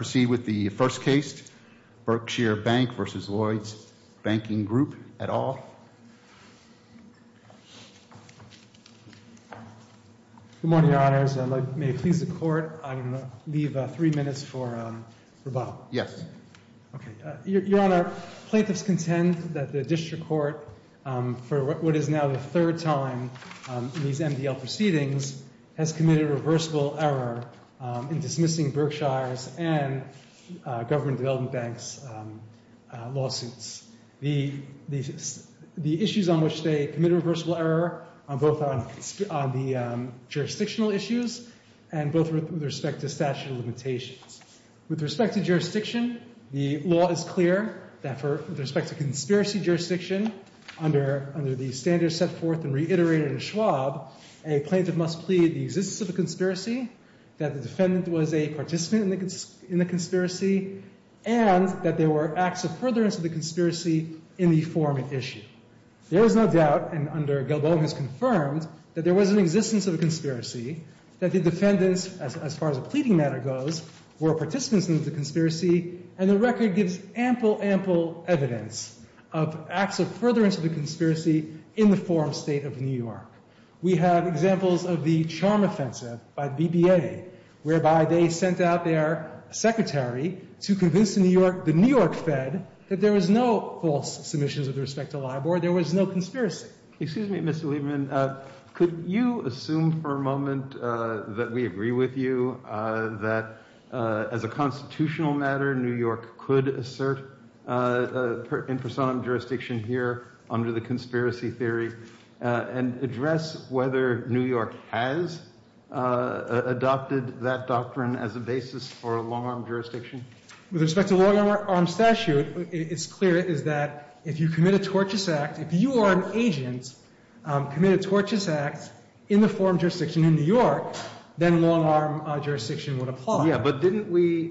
Proceeding with the first case, Berkshire Bank v. Lloyds Banking Group, et al. Good morning, Your Honors, and may it please the Court, I'm going to leave three minutes for rebuttal. Yes. Okay. Your Honor, plaintiffs contend that the District Court, for what is now the third time in these Government Development Bank's lawsuits. The issues on which they committed reversible error are both on the jurisdictional issues and both with respect to statute of limitations. With respect to jurisdiction, the law is clear that with respect to conspiracy jurisdiction under the standards set forth and reiterated in Schwab, a plaintiff must plead the existence of a conspiracy, that the defendant was a participant in the conspiracy, and that there were acts of furtherance of the conspiracy in the forum at issue. There is no doubt, and under Gilboa has confirmed, that there was an existence of a conspiracy, that the defendants, as far as the pleading matter goes, were participants in the conspiracy, and the record gives ample, ample evidence of acts of furtherance of the conspiracy in the forum state of New York. We have examples of the Charm Offensive by the BBA, whereby they sent out their secretary to convince the New York Fed that there was no false submissions with respect to LIBOR, there was no conspiracy. Excuse me, Mr. Lieberman, could you assume for a moment that we agree with you that as a constitutional matter, New York could assert in personam jurisdiction here under the conspiracy theory, and address whether New York has adopted that doctrine as a basis for a long-arm jurisdiction? With respect to long-arm statute, it's clear that if you commit a tortious act, if you are an agent, commit a tortious act in the forum jurisdiction in New York, then long-arm jurisdiction would apply. Yeah, but didn't we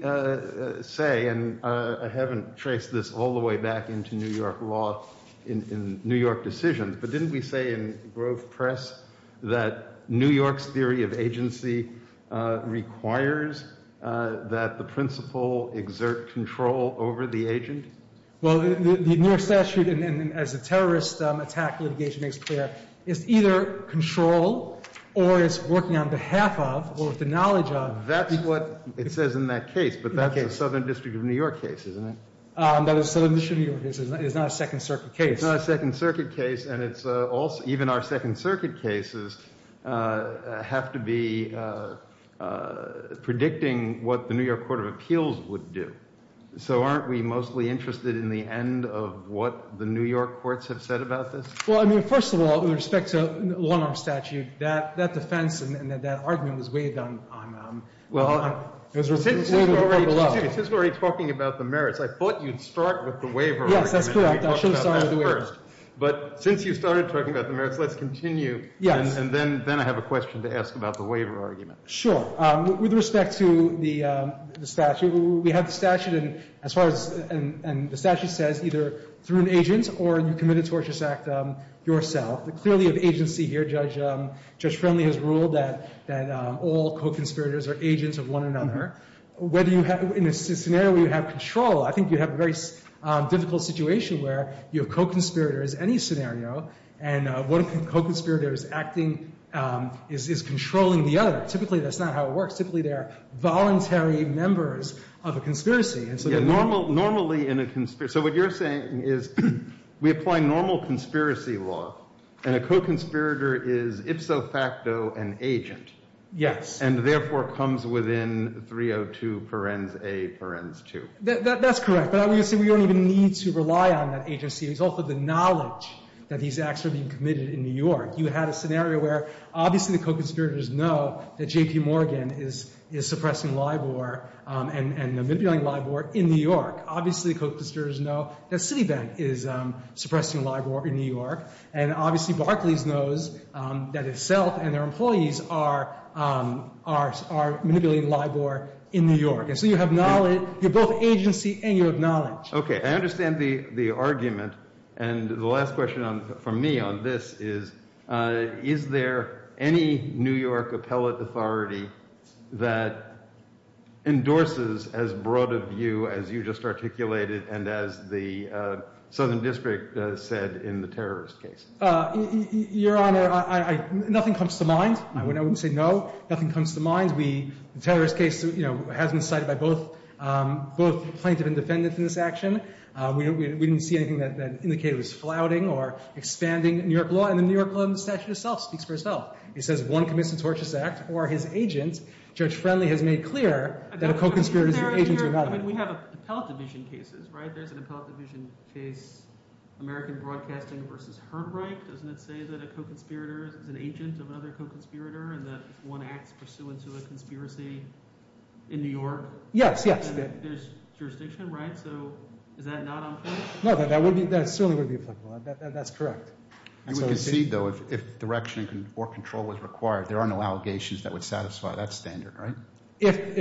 say, and I haven't traced this all the way back into New York law, in New York law, but didn't we say in Grove Press that New York's theory of agency requires that the principal exert control over the agent? Well, the New York statute, as a terrorist attack litigation makes clear, is either control or it's working on behalf of, or with the knowledge of. That's what it says in that case, but that's a Southern District of New York case, isn't it? That is a Southern District of New York case, it's not a Second Circuit case. It's not a Second Circuit case, and it's also, even our Second Circuit cases have to be predicting what the New York Court of Appeals would do. So aren't we mostly interested in the end of what the New York courts have said about this? Well, I mean, first of all, with respect to long-arm statute, that defense and that argument was waived on, it was waived at the court of law. Since we're already talking about the merits, I thought you'd start with the waiver argument. Yes, that's correct. I should have started with the waivers. But since you started talking about the merits, let's continue, and then I have a question to ask about the waiver argument. Sure. With respect to the statute, we have the statute, and as far as, and the statute says either through an agent or you committed tortious act yourself. Clearly of agency here, Judge Friendly has ruled that all co-conspirators are agents of one another. Whether you have, in a scenario where you have control, I think you have a very difficult situation where you have co-conspirators, any scenario, and one co-conspirator is acting, is controlling the other. Typically that's not how it works. Typically they are voluntary members of a conspiracy. Yeah, normally in a, so what you're saying is we apply normal conspiracy law, and a co-conspirator is ipso facto an agent. Yes. And therefore comes within 302 parens A, parens 2. That's correct. But obviously we don't even need to rely on that agency as a result of the knowledge that these acts are being committed in New York. You had a scenario where obviously the co-conspirators know that J.P. Morgan is suppressing LIBOR and manipulating LIBOR in New York. Obviously the co-conspirators know that Citibank is suppressing LIBOR in New York. And obviously Barclays knows that itself and their employees are manipulating LIBOR in New York. And so you have knowledge, you're both agency and you have knowledge. Okay. I understand the argument. And the last question for me on this is, is there any New York appellate authority that endorses as broad a view as you just articulated and as the Southern District said in the terrorist case? Your Honor, nothing comes to mind. I wouldn't say no. Nothing comes to mind. The terrorist case has been cited by both plaintiff and defendants in this action. We didn't see anything that indicated it was flouting or expanding New York law. And the New York law in the statute itself speaks for itself. It says one commits a torturous act or his agent, Judge Friendly, has made clear that a co-conspirator is an agent to another. I don't understand the argument here. I mean, we have appellate division cases, right? There's an appellate division case, American Broadcasting v. Herbright. Doesn't it say that a co-conspirator is an agent of another co-conspirator and that one commits acts pursuant to a conspiracy in New York? Yes, yes. There's jurisdiction, right? So is that not unfair? No, that certainly wouldn't be applicable. That's correct. And we can see, though, if direction or control was required, there are no allegations that would satisfy that standard, right? If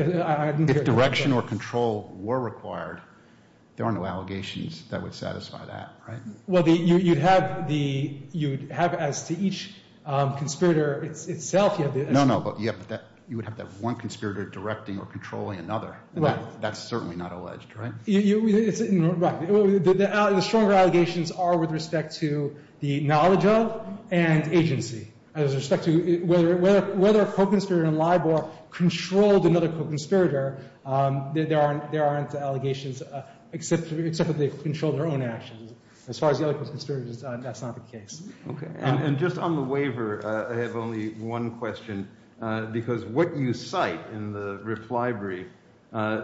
direction or control were required, there are no allegations that would satisfy that, right? Well, you'd have as to each conspirator itself, you'd have the… No, no, but you would have that one conspirator directing or controlling another. Right. That's certainly not alleged, right? Right. The stronger allegations are with respect to the knowledge of and agency. As respect to whether a co-conspirator in LIBOR controlled another co-conspirator, there aren't allegations except that they controlled their own actions. As far as the other conspirators, that's not the case. Okay. And just on the waiver, I have only one question, because what you cite in the reply brief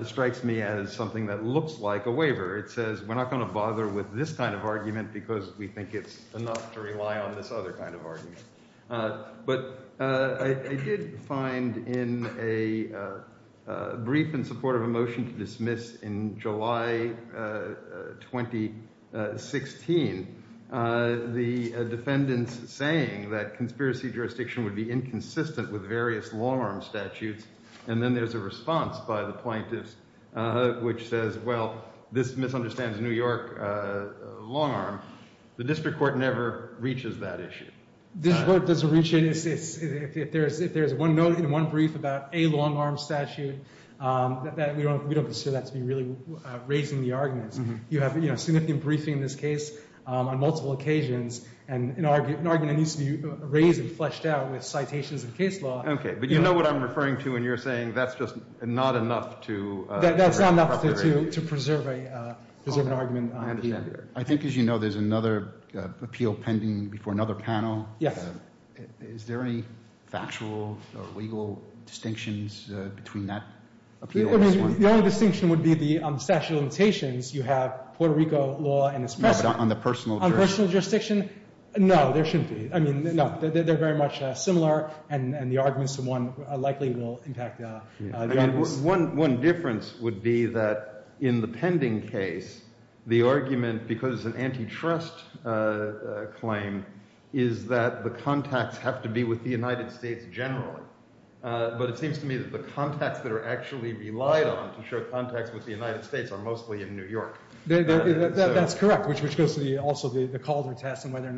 strikes me as something that looks like a waiver. It says, we're not going to bother with this kind of argument because we think it's enough to rely on this other kind of argument. But I did find in a brief in support of a motion to dismiss in July 2016 the defendants saying that conspiracy jurisdiction would be inconsistent with various long-arm statutes, and then there's a response by the plaintiffs which says, well, this misunderstands New York long-arm. The district court never reaches that issue. The district court doesn't reach it. If there's one note in one brief about a long-arm statute, we don't consider that to be really raising the argument. You have a significant briefing in this case on multiple occasions, and an argument needs to be raised and fleshed out with citations of case law. Okay. But you know what I'm referring to when you're saying that's just not enough to That's not enough to preserve an argument. I understand. I think, as you know, there's another appeal pending before another panel. Yes. Is there any factual or legal distinctions between that appeal and this one? I mean, the only distinction would be the statute of limitations. You have Puerto Rico law and its precedent. No, but on the personal jurisdiction? On personal jurisdiction, no, there shouldn't be. I mean, no, they're very much similar, and the arguments to one likely will impact the others. One difference would be that in the pending case, the argument, because it's an antitrust claim, is that the contacts have to be with the United States generally. But it seems to me that the contacts that are actually relied on to show contacts with the United States are mostly in New York. That's correct, which goes to also the Calder test and whether or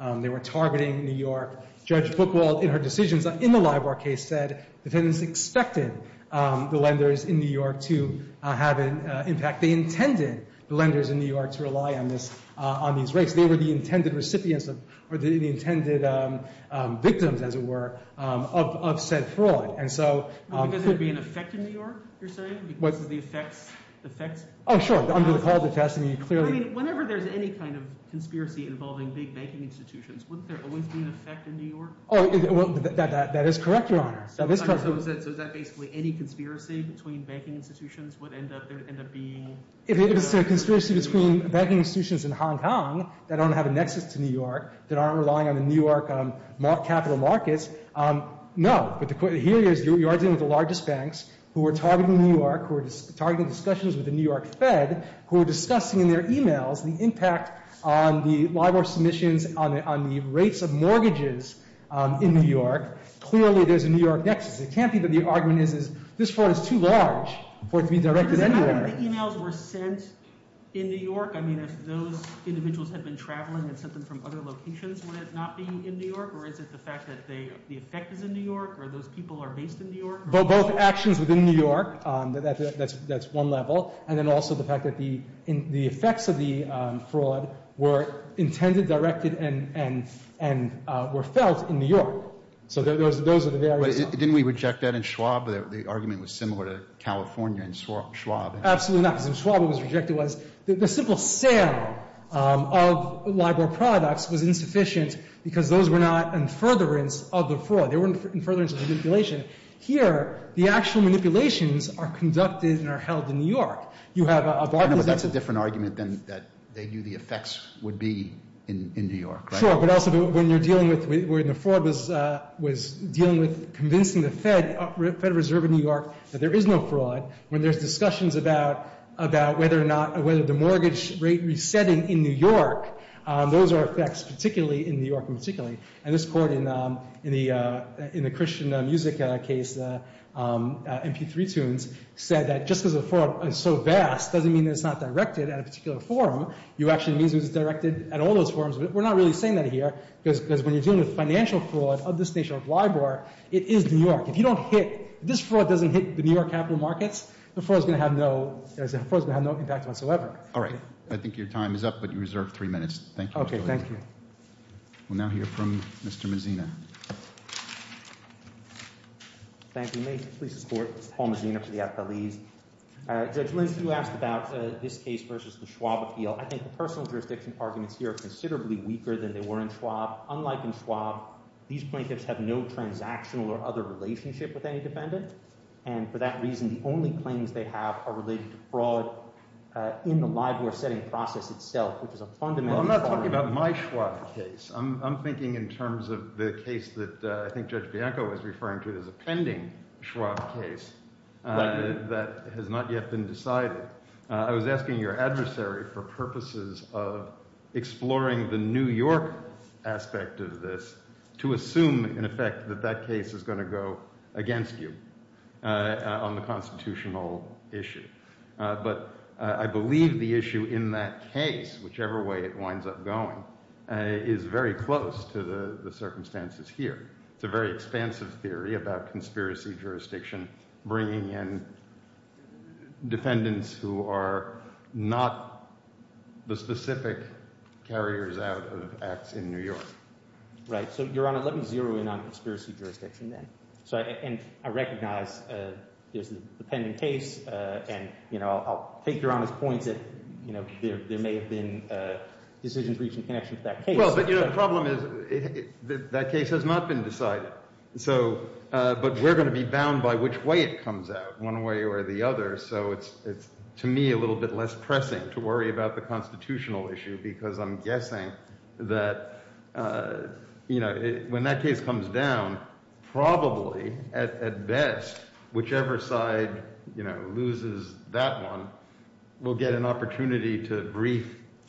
not they were targeting New York. Judge Buchwald, in her decisions in the Libar case, said defendants expected the lenders in New York to have an impact. They intended the lenders in New York to rely on these rates. They were the intended recipients or the intended victims, as it were, of said fraud. And so— Because they're being affected in New York, you're saying? Because of the effects? Oh, sure. Under the Calder test, I mean, clearly— I mean, whenever there's any kind of conspiracy involving big banking institutions, wouldn't there always be an effect in New York? Oh, that is correct, Your Honor. So is that basically any conspiracy between banking institutions would end up being— If it's a conspiracy between banking institutions in Hong Kong that don't have a nexus to New York, that aren't relying on the New York capital markets, no. But the point here is you are dealing with the largest banks who are targeting New York, who are targeting discussions with the New York Fed, who are discussing in their emails the impact on the LIBOR submissions on the rates of mortgages in New York. Clearly, there's a New York nexus. It can't be that the argument is this fraud is too large for it to be directed anywhere. Does it matter if the emails were sent in New York? I mean, if those individuals had been traveling and sent them from other locations, would it not be in New York? Or is it the fact that the effect is in New York or those people are based in New York? Both actions within New York, that's one level. And then also the fact that the effects of the fraud were intended, directed, and were felt in New York. So those are the various levels. But didn't we reject that in Schwab? The argument was similar to California and Schwab. Absolutely not, because in Schwab it was rejected. The simple sale of LIBOR products was insufficient because those were not in furtherance of the fraud. They were in furtherance of the manipulation. Here, the actual manipulations are conducted and are held in New York. You have a bargain. But that's a different argument than that they knew the effects would be in New York, right? Sure. But also when you're dealing with where the fraud was dealing with convincing the Fed, Federal Reserve of New York, that there is no fraud, when there's discussions about whether or not, whether the mortgage rate resetting in New York, those are effects, particularly in New York, particularly. And this court in the Christian music case, MP3 tunes, said that just because the fraud is so vast doesn't mean that it's not directed at a particular forum. It actually means it's directed at all those forums. But we're not really saying that here because when you're dealing with financial fraud of this nation of LIBOR, it is New York. If you don't hit, if this fraud doesn't hit the New York capital markets, the fraud is going to have no impact whatsoever. All right. I think your time is up, but you reserve three minutes. Thank you. Thank you. We'll now hear from Mr. Mazzina. Thank you. May it please the Court. Paul Mazzina for the FLEs. Judge Lynch, you asked about this case versus the Schwab appeal. I think the personal jurisdiction arguments here are considerably weaker than they were in Schwab. Unlike in Schwab, these plaintiffs have no transactional or other relationship with any defendant. And for that reason, the only claims they have are related to fraud in the LIBOR setting process itself, which is a fundamental fraud. Well, I'm not talking about my Schwab case. I'm thinking in terms of the case that I think Judge Bianco was referring to as a pending Schwab case that has not yet been decided. I was asking your adversary for purposes of exploring the New York aspect of this to assume in effect that that case is going to go against you on the constitutional issue. But I believe the issue in that case, whichever way it winds up going, is very close to the circumstances here. It's a very expansive theory about conspiracy jurisdiction bringing in defendants who are not the specific carriers out of acts in New York. Right. So, Your Honor, let me zero in on conspiracy jurisdiction then. And I recognize there's a pending case. And I'll take Your Honor's point that there may have been decisions reached in connection to that case. Well, but the problem is that case has not been decided. But we're going to be bound by which way it comes out, one way or the other. So it's, to me, a little bit less pressing to worry about the constitutional issue because I'm guessing that when that case comes down, probably, at best, whichever side loses that one will get an opportunity to brief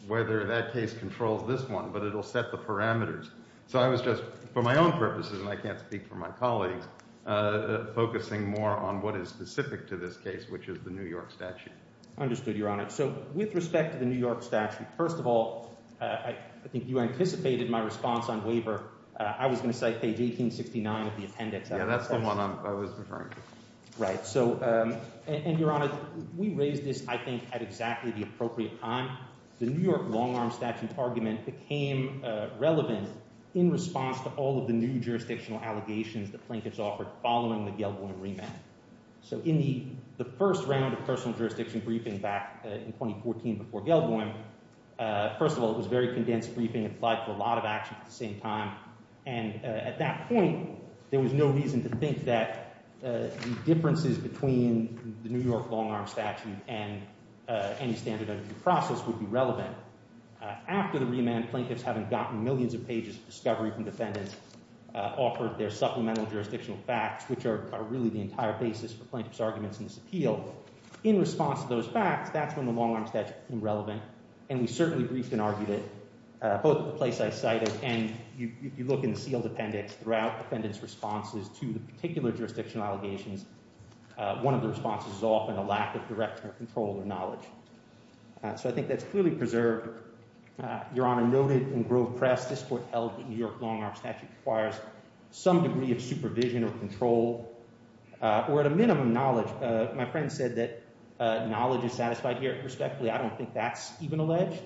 whether that case controls this one. But it'll set the parameters. So I was just, for my own purposes, and I can't speak for my colleagues, focusing more on what is specific to this case, which is the New York statute. Understood, Your Honor. So with respect to the New York statute, first of all, I think you anticipated my response on waiver. I was going to cite page 1869 of the appendix. Yeah, that's the one I was referring to. Right. So, and Your Honor, we raised this, I think, at exactly the appropriate time. The New York long-arm statute argument became relevant in response to all of the new jurisdictional allegations that Plinkett's offered following the Gell-Bohm remand. So in the first round of personal jurisdiction briefing back in 2014 before Gell-Bohm, first of all, it was a very condensed briefing. It applied for a lot of action at the same time. And at that point, there was no reason to think that the differences between the New York long-arm statute and any standard under due process would be relevant. After the remand, Plinkett's, having gotten millions of pages of discovery from defendants, offered their supplemental jurisdictional facts, which are really the entire basis for Plinkett's arguments in this appeal. In response to those facts, that's when the long-arm statute became relevant, and we certainly briefed and argued it, both at the place I cited, and you look in the sealed appendix throughout defendants' responses to the particular jurisdictional allegations, one of the responses is often a lack of direction or control or knowledge. So I think that's clearly preserved. Your Honor, noted in Grove Press, this Court held that New York long-arm statute requires some degree of supervision or control, or at a minimum, knowledge. My friend said that knowledge is satisfied here. Respectfully, I don't think that's even alleged.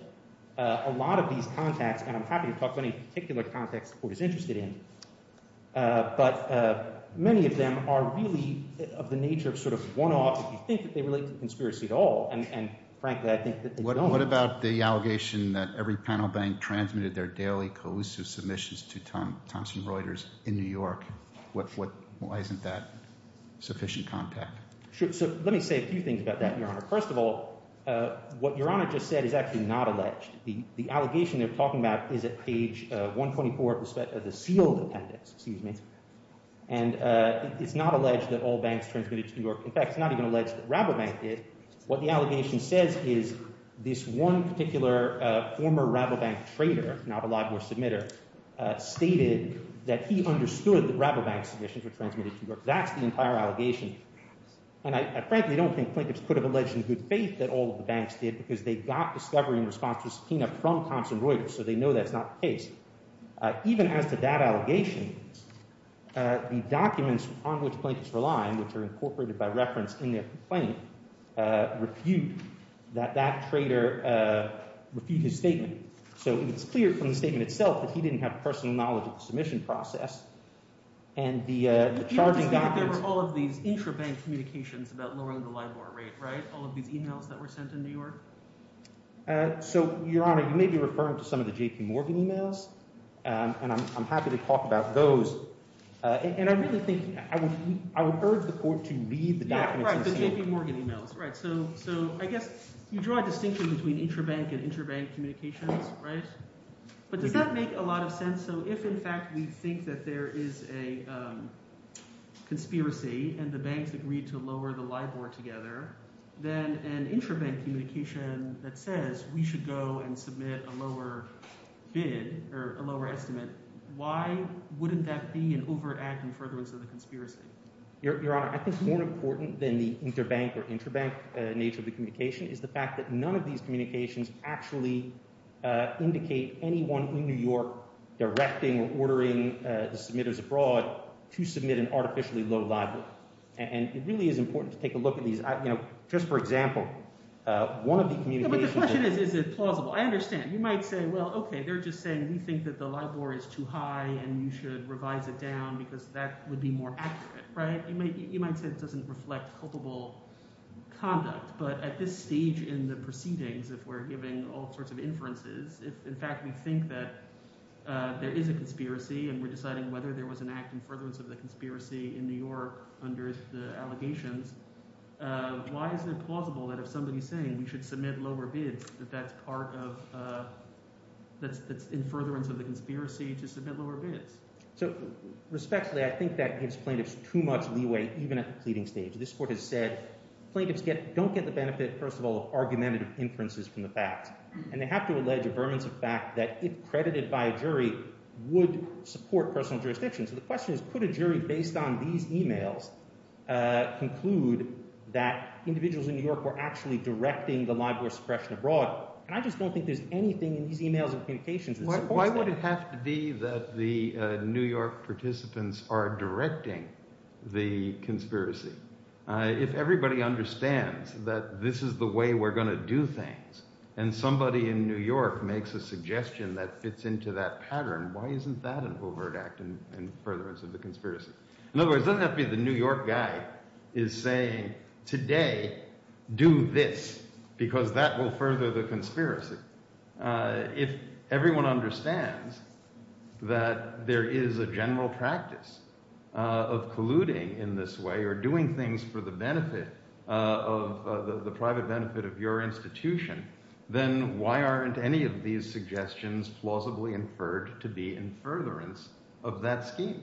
A lot of these contacts, and I'm happy to talk about any particular contacts the Court is interested in, but many of them are really of the nature of sort of one-offs if you think that they relate to the conspiracy at all, and frankly, I think that they don't. What about the allegation that every panel bank transmitted their daily collusive submissions to Thomson Reuters in New York? Why isn't that sufficient contact? Let me say a few things about that, Your Honor. First of all, what Your Honor just said is actually not alleged. The allegation they're talking about is at page 124 of the sealed appendix, and it's not alleged that all banks transmitted to New York. In fact, it's not even alleged that Rabobank did. What the allegation says is this one particular former Rabobank trader, now a Libor submitter, stated that he understood that Rabobank submissions were transmitted to New York. That's the entire allegation, and I frankly don't think plaintiffs could have alleged in good faith that all of the banks did because they got discovery in response to a subpoena from Thomson Reuters, so they know that's not the case. Even as to that allegation, the documents on which plaintiffs rely, which are incorporated by reference in their complaint, refute that that trader refute his statement. So it's clear from the statement itself that he didn't have personal knowledge of the submission process, and the charging documents— But you understand that there were all of these intrabank communications about lowering the Libor rate, right? All of these emails that were sent to New York? So, Your Honor, you may be referring to some of the J.P. Morgan emails, and I'm happy to talk about those. And I really think—I would urge the court to read the documents themselves. Yeah, right, the J.P. Morgan emails, right. So I guess you draw a distinction between intrabank and intrabank communications, right? But does that make a lot of sense? So if, in fact, we think that there is a conspiracy and the banks agreed to lower the Libor together, then an intrabank communication that says we should go and submit a lower bid or a lower bid might be an overacting furtherance of the conspiracy. Your Honor, I think more important than the interbank or intrabank nature of the communication is the fact that none of these communications actually indicate anyone in New York directing or ordering the submitters abroad to submit an artificially low Libor. And it really is important to take a look at these. You know, just for example, one of the communications— But the question is, is it plausible? I understand. You might say, well, OK, they're just saying we think that the Libor is too high and you should revise it down because that would be more accurate, right? You might say it doesn't reflect culpable conduct. But at this stage in the proceedings, if we're giving all sorts of inferences, if, in fact, we think that there is a conspiracy and we're deciding whether there was an act in furtherance of the conspiracy in New York under the allegations, why is it plausible that if somebody is saying we should submit lower bids, that that's part of—that's in furtherance of the conspiracy to submit lower bids? So respectfully, I think that gives plaintiffs too much leeway even at the pleading stage. This Court has said plaintiffs don't get the benefit, first of all, of argumentative inferences from the facts. And they have to allege a vermince of fact that if credited by a jury, would support personal jurisdiction. So the question is, could a jury based on these emails conclude that individuals in New York were actually directing the Libor suppression abroad? Why would it have to be that the New York participants are directing the conspiracy? If everybody understands that this is the way we're going to do things, and somebody in New York makes a suggestion that fits into that pattern, why isn't that an overt act in furtherance of the conspiracy? In other words, it doesn't have to be the New York guy is saying, today, do this, because that will further the conspiracy. If everyone understands that there is a general practice of colluding in this way, or doing things for the benefit of the private benefit of your institution, then why aren't any of these suggestions plausibly inferred to be in furtherance of that scheme?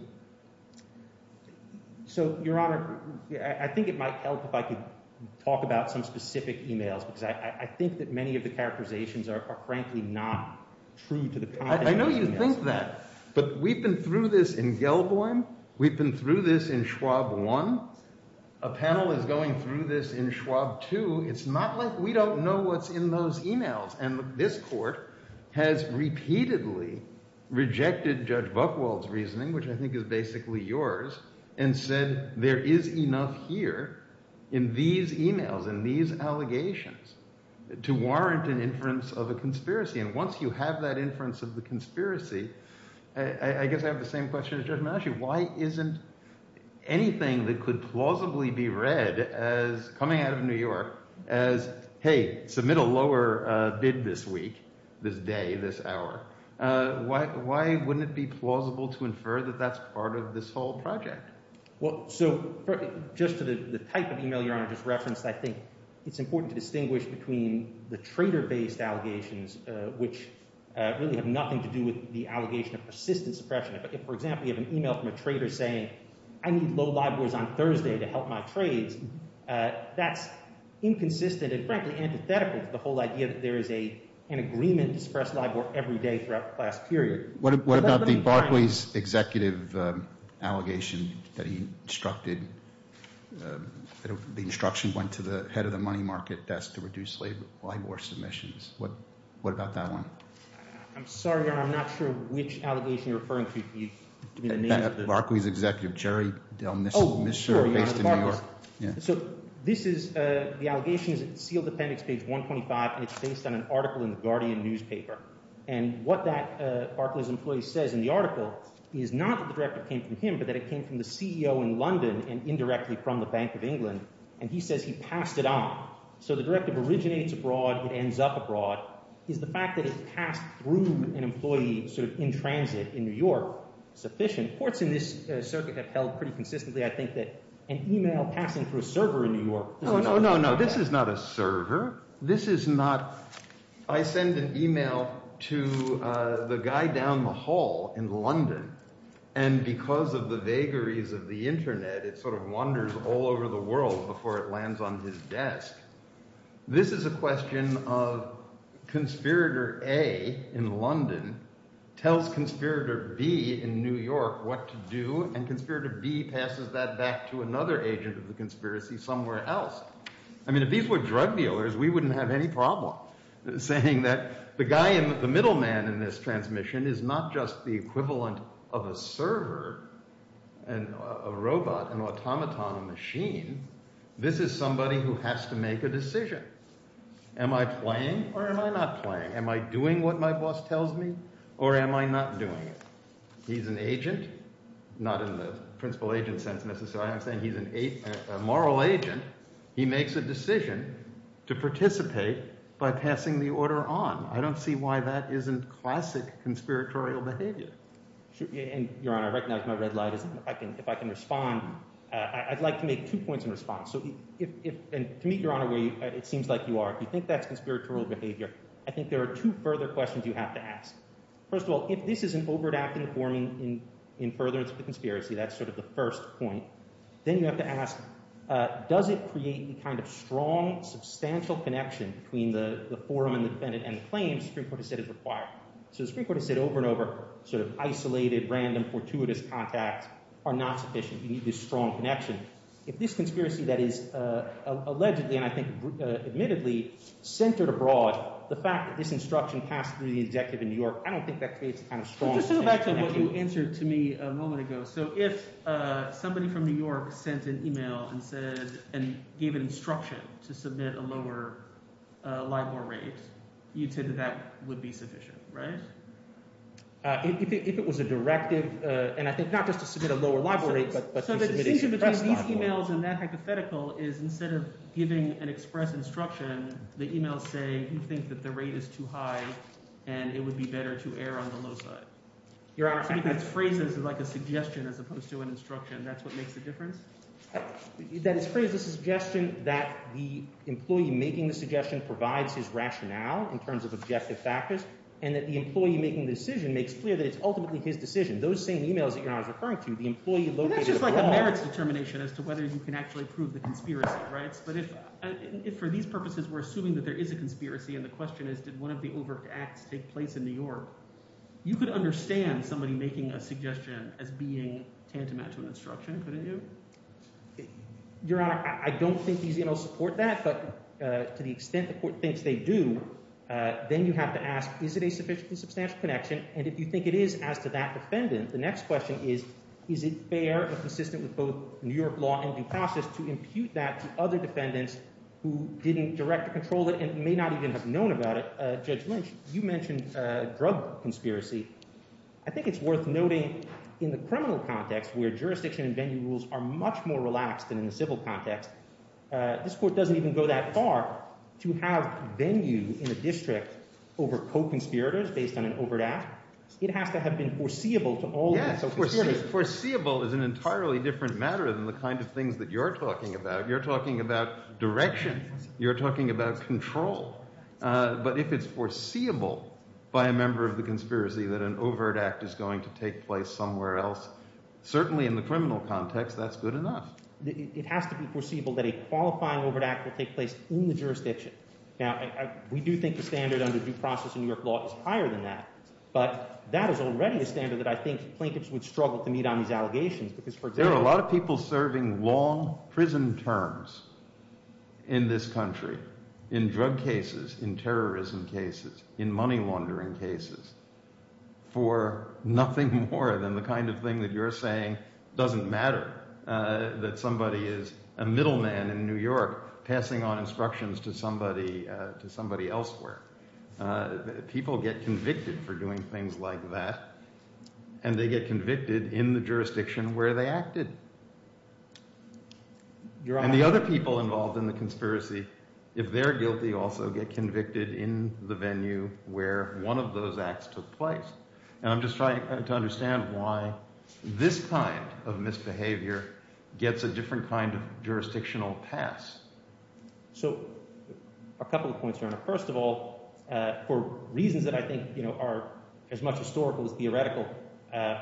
So, Your Honor, I think it might help if I could talk about some specific emails, because I think that many of the characterizations are frankly not true to the context. I know you think that, but we've been through this in Gelboim. We've been through this in Schwab 1. A panel is going through this in Schwab 2. It's not like we don't know what's in those emails. And this court has repeatedly rejected Judge Buchwald's reasoning, which I think is basically yours, and said there is enough here, in these emails, in these allegations, to warrant an inference of a conspiracy. And once you have that inference of the conspiracy, I guess I have the same question as Judge Maggio. Why isn't anything that could plausibly be read as coming out of New York as, hey, submit a lower bid this week, this day, this hour, why wouldn't it be plausible to infer that that's part of this whole project? Well, so just to the type of email Your Honor just referenced, I think it's important to distinguish between the trader-based allegations, which really have nothing to do with the allegation of persistent suppression. If, for example, you have an email from a trader saying, I need low LIBORs on Thursday to help my trades, that's inconsistent and frankly antithetical to the whole idea that there is an agreement to suppress LIBOR every day throughout the class period. What about the Barclays executive allegation that he instructed, that the instruction went to the head of the money market desk to reduce LIBOR submissions? What about that one? I'm sorry, Your Honor, I'm not sure which allegation you're referring to. Barclays executive, Jerry Del Misur, based in New York. So this is, the allegation is sealed appendix page 125, and it's based on an article in the Guardian newspaper. And what that Barclays employee says in the article is not that the directive came from him, but that it came from the CEO in London and indirectly from the Bank of England. And he says he passed it on. So the directive originates abroad, it ends up abroad. Is the fact that it passed through an employee sort of in transit in New York sufficient? Courts in this circuit have held pretty consistently, I think, that an email passing through a server in New York is not sufficient. No, no, no, this is not a server. This is not, I send an email to the guy down the hall in London, and because of the vagaries of the internet, it sort of wanders all over the world before it lands on his desk. This is a question of conspirator A in London tells conspirator B in New York what to do, and conspirator B passes that back to another agent of the conspiracy somewhere else. I mean, if these were drug dealers, we wouldn't have any problem saying that the guy in, the middle man in this transmission is not just the equivalent of a server, a robot, an automaton, a machine. This is somebody who has to make a decision. Am I playing or am I not playing? Am I doing what my boss tells me or am I not doing it? He's an agent, not in the principal agent sense necessarily. I'm saying he's a moral agent. He makes a decision to participate by passing the order on. I don't see why that isn't classic conspiratorial behavior. Your Honor, I recognize my red light. If I can respond, I'd like to make two points in response. To me, Your Honor, it seems like you are. If you think that's conspiratorial behavior, I think there are two further questions you have to ask. First of all, if this is an over-adapted informing in furtherance of the conspiracy, that's sort of the first point. Then you have to ask, does it create the kind of strong, substantial connection between the forum and the defendant and the claims the Supreme Court has said is required? So the Supreme Court has said over and over, sort of isolated, random, fortuitous contacts are not sufficient. You need this strong connection. If this conspiracy that is allegedly and I think admittedly centered abroad, the fact that this instruction passed through the executive in New York, I don't think that creates a kind of strong connection. Just go back to what you answered to me a moment ago. So if somebody from New York sent an email and said – and gave an instruction to submit a lower LIBOR rate, you'd say that that would be sufficient, right? If it was a directive, and I think not just to submit a lower LIBOR rate but to submit an express LIBOR rate. So the decision between these emails and that hypothetical is instead of giving an express instruction, the emails say you think that the rate is too high and it would be better to err on the low side. Your Honor, I think that's phrased as like a suggestion as opposed to an instruction. That's what makes the difference? That is phrased as a suggestion that the employee making the suggestion provides his rationale in terms of objective factors and that the employee making the decision makes clear that it's ultimately his decision. Those same emails that Your Honor is referring to, the employee located abroad – That's just like a merits determination as to whether you can actually prove the conspiracy, right? Yes, but if for these purposes we're assuming that there is a conspiracy and the question is did one of the overt acts take place in New York, you could understand somebody making a suggestion as being tantamount to an instruction, couldn't you? Your Honor, I don't think these emails support that, but to the extent the court thinks they do, then you have to ask is it a sufficiently substantial connection, and if you think it is as to that defendant, the next question is is it fair and consistent with both New York law and due process to impute that to other defendants who didn't direct or control it and may not even have known about it. Judge Lynch, you mentioned drug conspiracy. I think it's worth noting in the criminal context where jurisdiction and venue rules are much more relaxed than in the civil context, this court doesn't even go that far to have venue in a district over co-conspirators based on an overt act. It has to have been foreseeable to all. Yes, foreseeable is an entirely different matter than the kind of things that you're talking about. You're talking about direction. You're talking about control. But if it's foreseeable by a member of the conspiracy that an overt act is going to take place somewhere else, certainly in the criminal context, that's good enough. It has to be foreseeable that a qualifying overt act will take place in the jurisdiction. Now, we do think the standard under due process in New York law is higher than that, but that is already a standard that I think plaintiffs would struggle to meet on these allegations. There are a lot of people serving long prison terms in this country in drug cases, in terrorism cases, in money laundering cases for nothing more than the kind of thing that you're saying doesn't matter, that somebody is a middleman in New York passing on instructions to somebody elsewhere. People get convicted for doing things like that, and they get convicted in the jurisdiction where they acted. And the other people involved in the conspiracy, if they're guilty, also get convicted in the venue where one of those acts took place. And I'm just trying to understand why this kind of misbehavior gets a different kind of jurisdictional pass. So a couple of points here. First of all, for reasons that I think are as much historical as theoretical,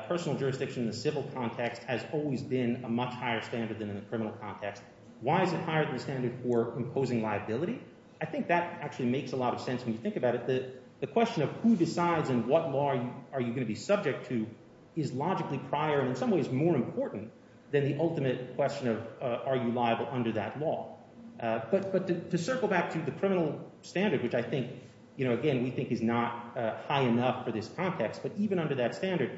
personal jurisdiction in the civil context has always been a much higher standard than in the criminal context. Why is it higher than the standard for imposing liability? I think that actually makes a lot of sense when you think about it. The question of who decides and what law are you going to be subject to is logically prior and in some ways more important than the ultimate question of are you liable under that law. But to circle back to the criminal standard, which I think, again, we think is not high enough for this context, but even under that standard,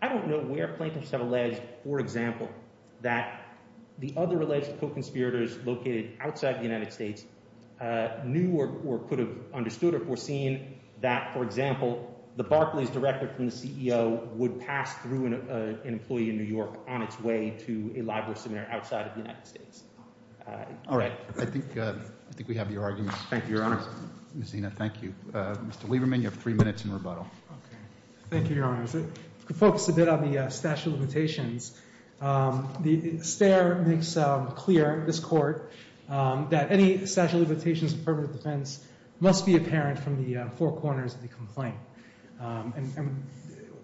I don't know where plaintiffs have alleged, for example, that the other alleged co-conspirators located outside the United States knew or could have understood or foreseen that, for example, the Barclays director from the CEO would pass through an employee in New York on its way to a library seminar outside of the United States. All right. I think we have your argument. Thank you, Your Honor. Ms. Zina, thank you. Mr. Lieberman, you have three minutes in rebuttal. Thank you, Your Honor. I was going to focus a bit on the statute of limitations. The STAIR makes clear, this Court, that any statute of limitations of affirmative defense must be apparent from the four corners of the complaint. And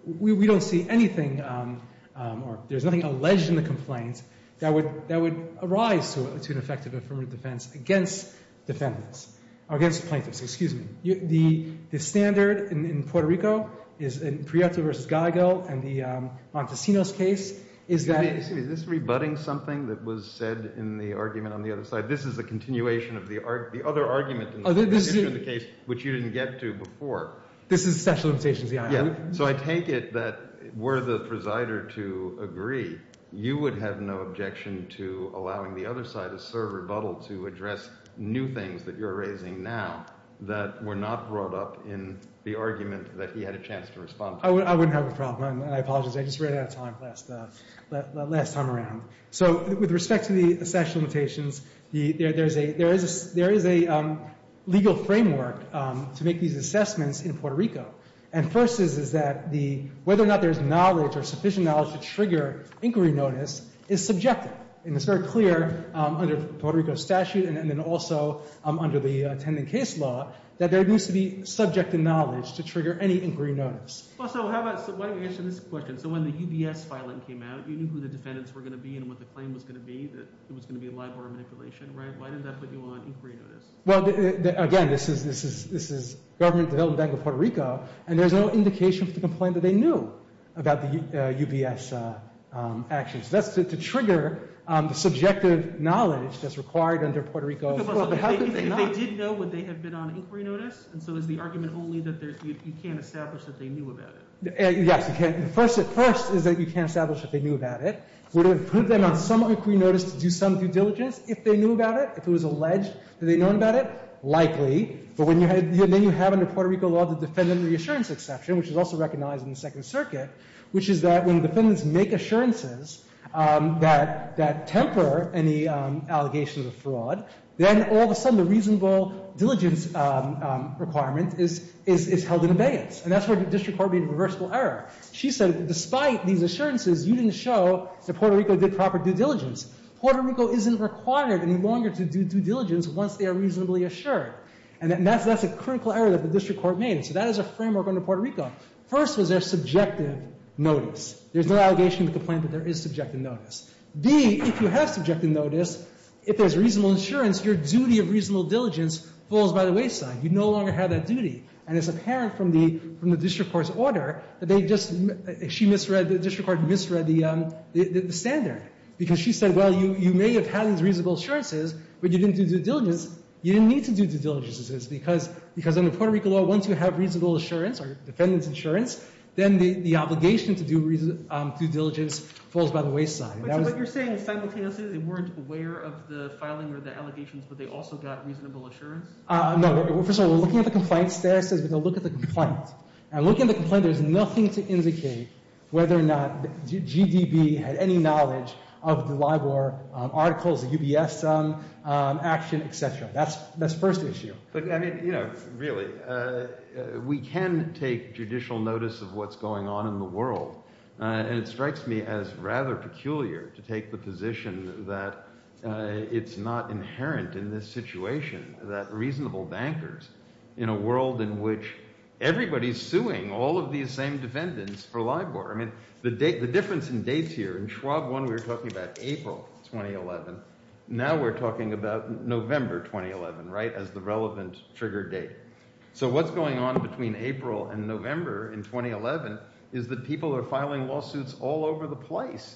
we don't see anything or there's nothing alleged in the complaint that would arise to an effective affirmative defense against defendants or against plaintiffs. Excuse me. The standard in Puerto Rico is in Prieto v. Gallego and the Montesinos case is that— Excuse me. Is this rebutting something that was said in the argument on the other side? This is a continuation of the other argument in the case, which you didn't get to before. This is the statute of limitations, Your Honor. Yeah. So I take it that were the presider to agree, you would have no objection to allowing the other side to serve rebuttal to address new things that you're raising now that were not brought up in the argument that he had a chance to respond to. I wouldn't have a problem. I apologize. I just ran out of time last time around. So with respect to the statute of limitations, there is a legal framework to make these assessments in Puerto Rico. And first is that whether or not there's knowledge or sufficient knowledge to trigger inquiry notice is subjective. And it's very clear under the Puerto Rico statute and then also under the attending case law that there needs to be subject to knowledge to trigger any inquiry notice. So why don't you answer this question. So when the UBS filing came out, you knew who the defendants were going to be and what the claim was going to be, that it was going to be a libel or manipulation, right? Why didn't that put you on inquiry notice? Well, again, this is Government Development Bank of Puerto Rico, and there's no indication for the complaint that they knew about the UBS actions. That's to trigger the subjective knowledge that's required under Puerto Rico law. But how could they not? If they did know, would they have been on inquiry notice? And so is the argument only that you can't establish that they knew about it? Yes. First is that you can't establish that they knew about it. Would it have put them on some inquiry notice to do some due diligence if they knew about it, if it was alleged that they'd known about it? Likely. But then you have under Puerto Rico law the defendant reassurance exception, which is also recognized in the Second Circuit, which is that when defendants make assurances that temper any allegations of fraud, then all of a sudden the reasonable diligence requirement is held in abeyance. And that's where the district court made a reversible error. She said that despite these assurances, you didn't show that Puerto Rico did proper due diligence. Puerto Rico isn't required any longer to do due diligence once they are reasonably assured. And that's a critical error that the district court made. So that is a framework under Puerto Rico. First was their subjective notice. There's no allegation of complaint, but there is subjective notice. B, if you have subjective notice, if there's reasonable assurance, your duty of reasonable diligence falls by the wayside. You no longer have that duty. And it's apparent from the district court's order that they just, she misread, the district court misread the standard. Because she said, well, you may have had these reasonable assurances, but you didn't do due diligence. You didn't need to do due diligence. Because under Puerto Rico law, once you have reasonable assurance or defendant's assurance, then the obligation to do due diligence falls by the wayside. So what you're saying is simultaneously they weren't aware of the filing or the allegations, but they also got reasonable assurance? No. First of all, we're looking at the complaint status. We're going to look at the complaint. And looking at the complaint, there's nothing to indicate whether or not GDB had any knowledge of the LIBOR articles, the UBS action, et cetera. That's the first issue. But, I mean, you know, really, we can take judicial notice of what's going on in the world. And it strikes me as rather peculiar to take the position that it's not inherent in this situation, that reasonable bankers in a world in which everybody's suing all of these same defendants for LIBOR. I mean, the difference in dates here. In Schwab 1, we were talking about April 2011. Now we're talking about November 2011, right, as the relevant trigger date. So what's going on between April and November in 2011 is that people are filing lawsuits all over the place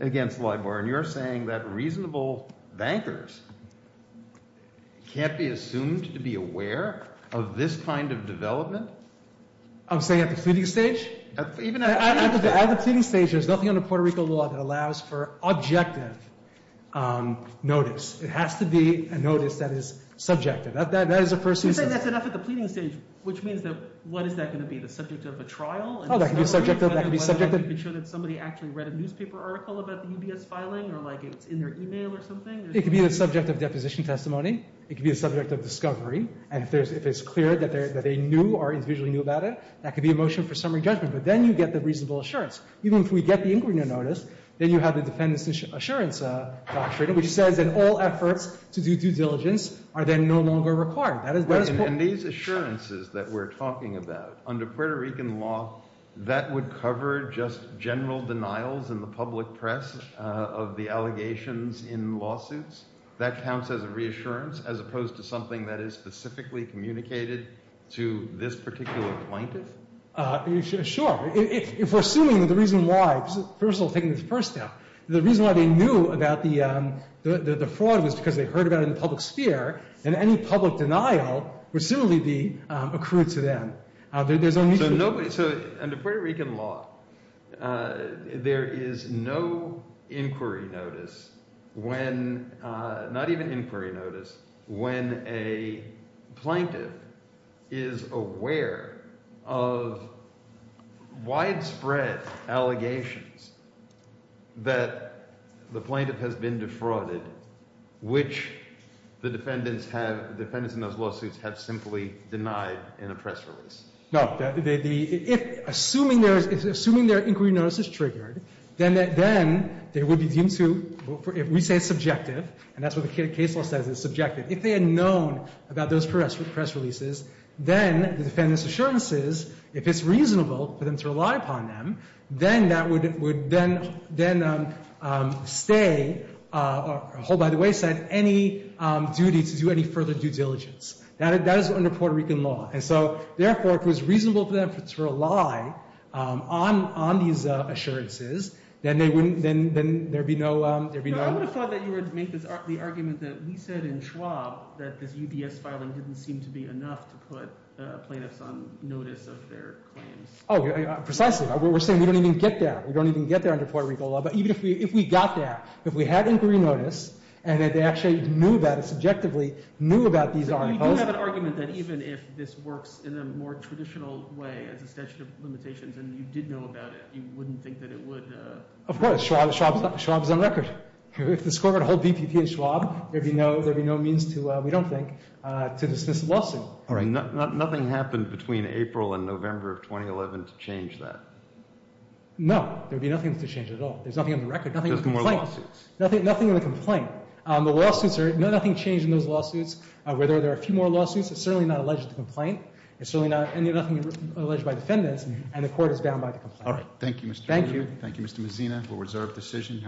against LIBOR. And you're saying that reasonable bankers can't be assumed to be aware of this kind of development? I'm saying at the pleading stage? At the pleading stage, there's nothing under Puerto Rico law that allows for objective notice. It has to be a notice that is subjective. That is the first issue. You're saying that's enough at the pleading stage, which means that what is that going to be, the subject of a trial? Oh, that can be subjective. That can be subjective. Whether you can show that somebody actually read a newspaper article about the UBS filing or, like, it's in their e-mail or something. It can be the subject of deposition testimony. It can be the subject of discovery. And if it's clear that they knew or individually knew about it, that could be a motion for summary judgment. But then you get the reasonable assurance. Even if we get the inquiry notice, then you have the defendant's assurance doctrine, which says that all efforts to do due diligence are then no longer required. And these assurances that we're talking about, under Puerto Rican law, that would cover just general denials in the public press of the allegations in lawsuits? That counts as a reassurance as opposed to something that is specifically communicated to this particular plaintiff? Sure. If we're assuming that the reason why, first of all, taking the first step, the reason why they knew about the fraud was because they heard about it in the public sphere, then any public denial would similarly be accrued to them. So under Puerto Rican law, there is no inquiry notice when, not even inquiry notice, when a plaintiff is aware of widespread allegations that the plaintiff has been defrauded, which the defendants in those lawsuits have simply denied in a press release. No. Assuming their inquiry notice is triggered, then they would be deemed to, if we say subjective, and that's what the case law says is subjective, if they had known about those press releases, then the defendants' assurances, if it's reasonable for them to rely upon them, then that would then stay or hold by the wayside any duty to do any further due diligence. That is under Puerto Rican law. And so, therefore, if it was reasonable for them to rely on these assurances, then they wouldn't, then there would be no, there would be no I would have thought that you would make the argument that we said in Schwab that this UBS filing didn't seem to be enough to put plaintiffs on notice of their claims. Oh, precisely. We're saying we don't even get there. We don't even get there under Puerto Rican law. But even if we got there, if we had inquiry notice, and that they actually knew about it subjectively, knew about these articles. So you do have an argument that even if this works in a more traditional way as a statute of limitations and you did know about it, you wouldn't think that it would? Of course. Schwab is on record. If the score were to hold BPP in Schwab, there would be no means to, we don't think, to dismiss the lawsuit. All right. Nothing happened between April and November of 2011 to change that? No. There would be nothing to change at all. There's nothing on the record. Nothing in the complaint. There's more lawsuits. Nothing in the complaint. The lawsuits are, nothing changed in those lawsuits. Whether there are a few more lawsuits, it's certainly not alleged to complain. It's certainly not, and nothing alleged by defendants, and the court is bound by the complaint. All right. Thank you, Mr. Warren. Thank you. Thank you, Mr. Mazzina. We'll reserve decision.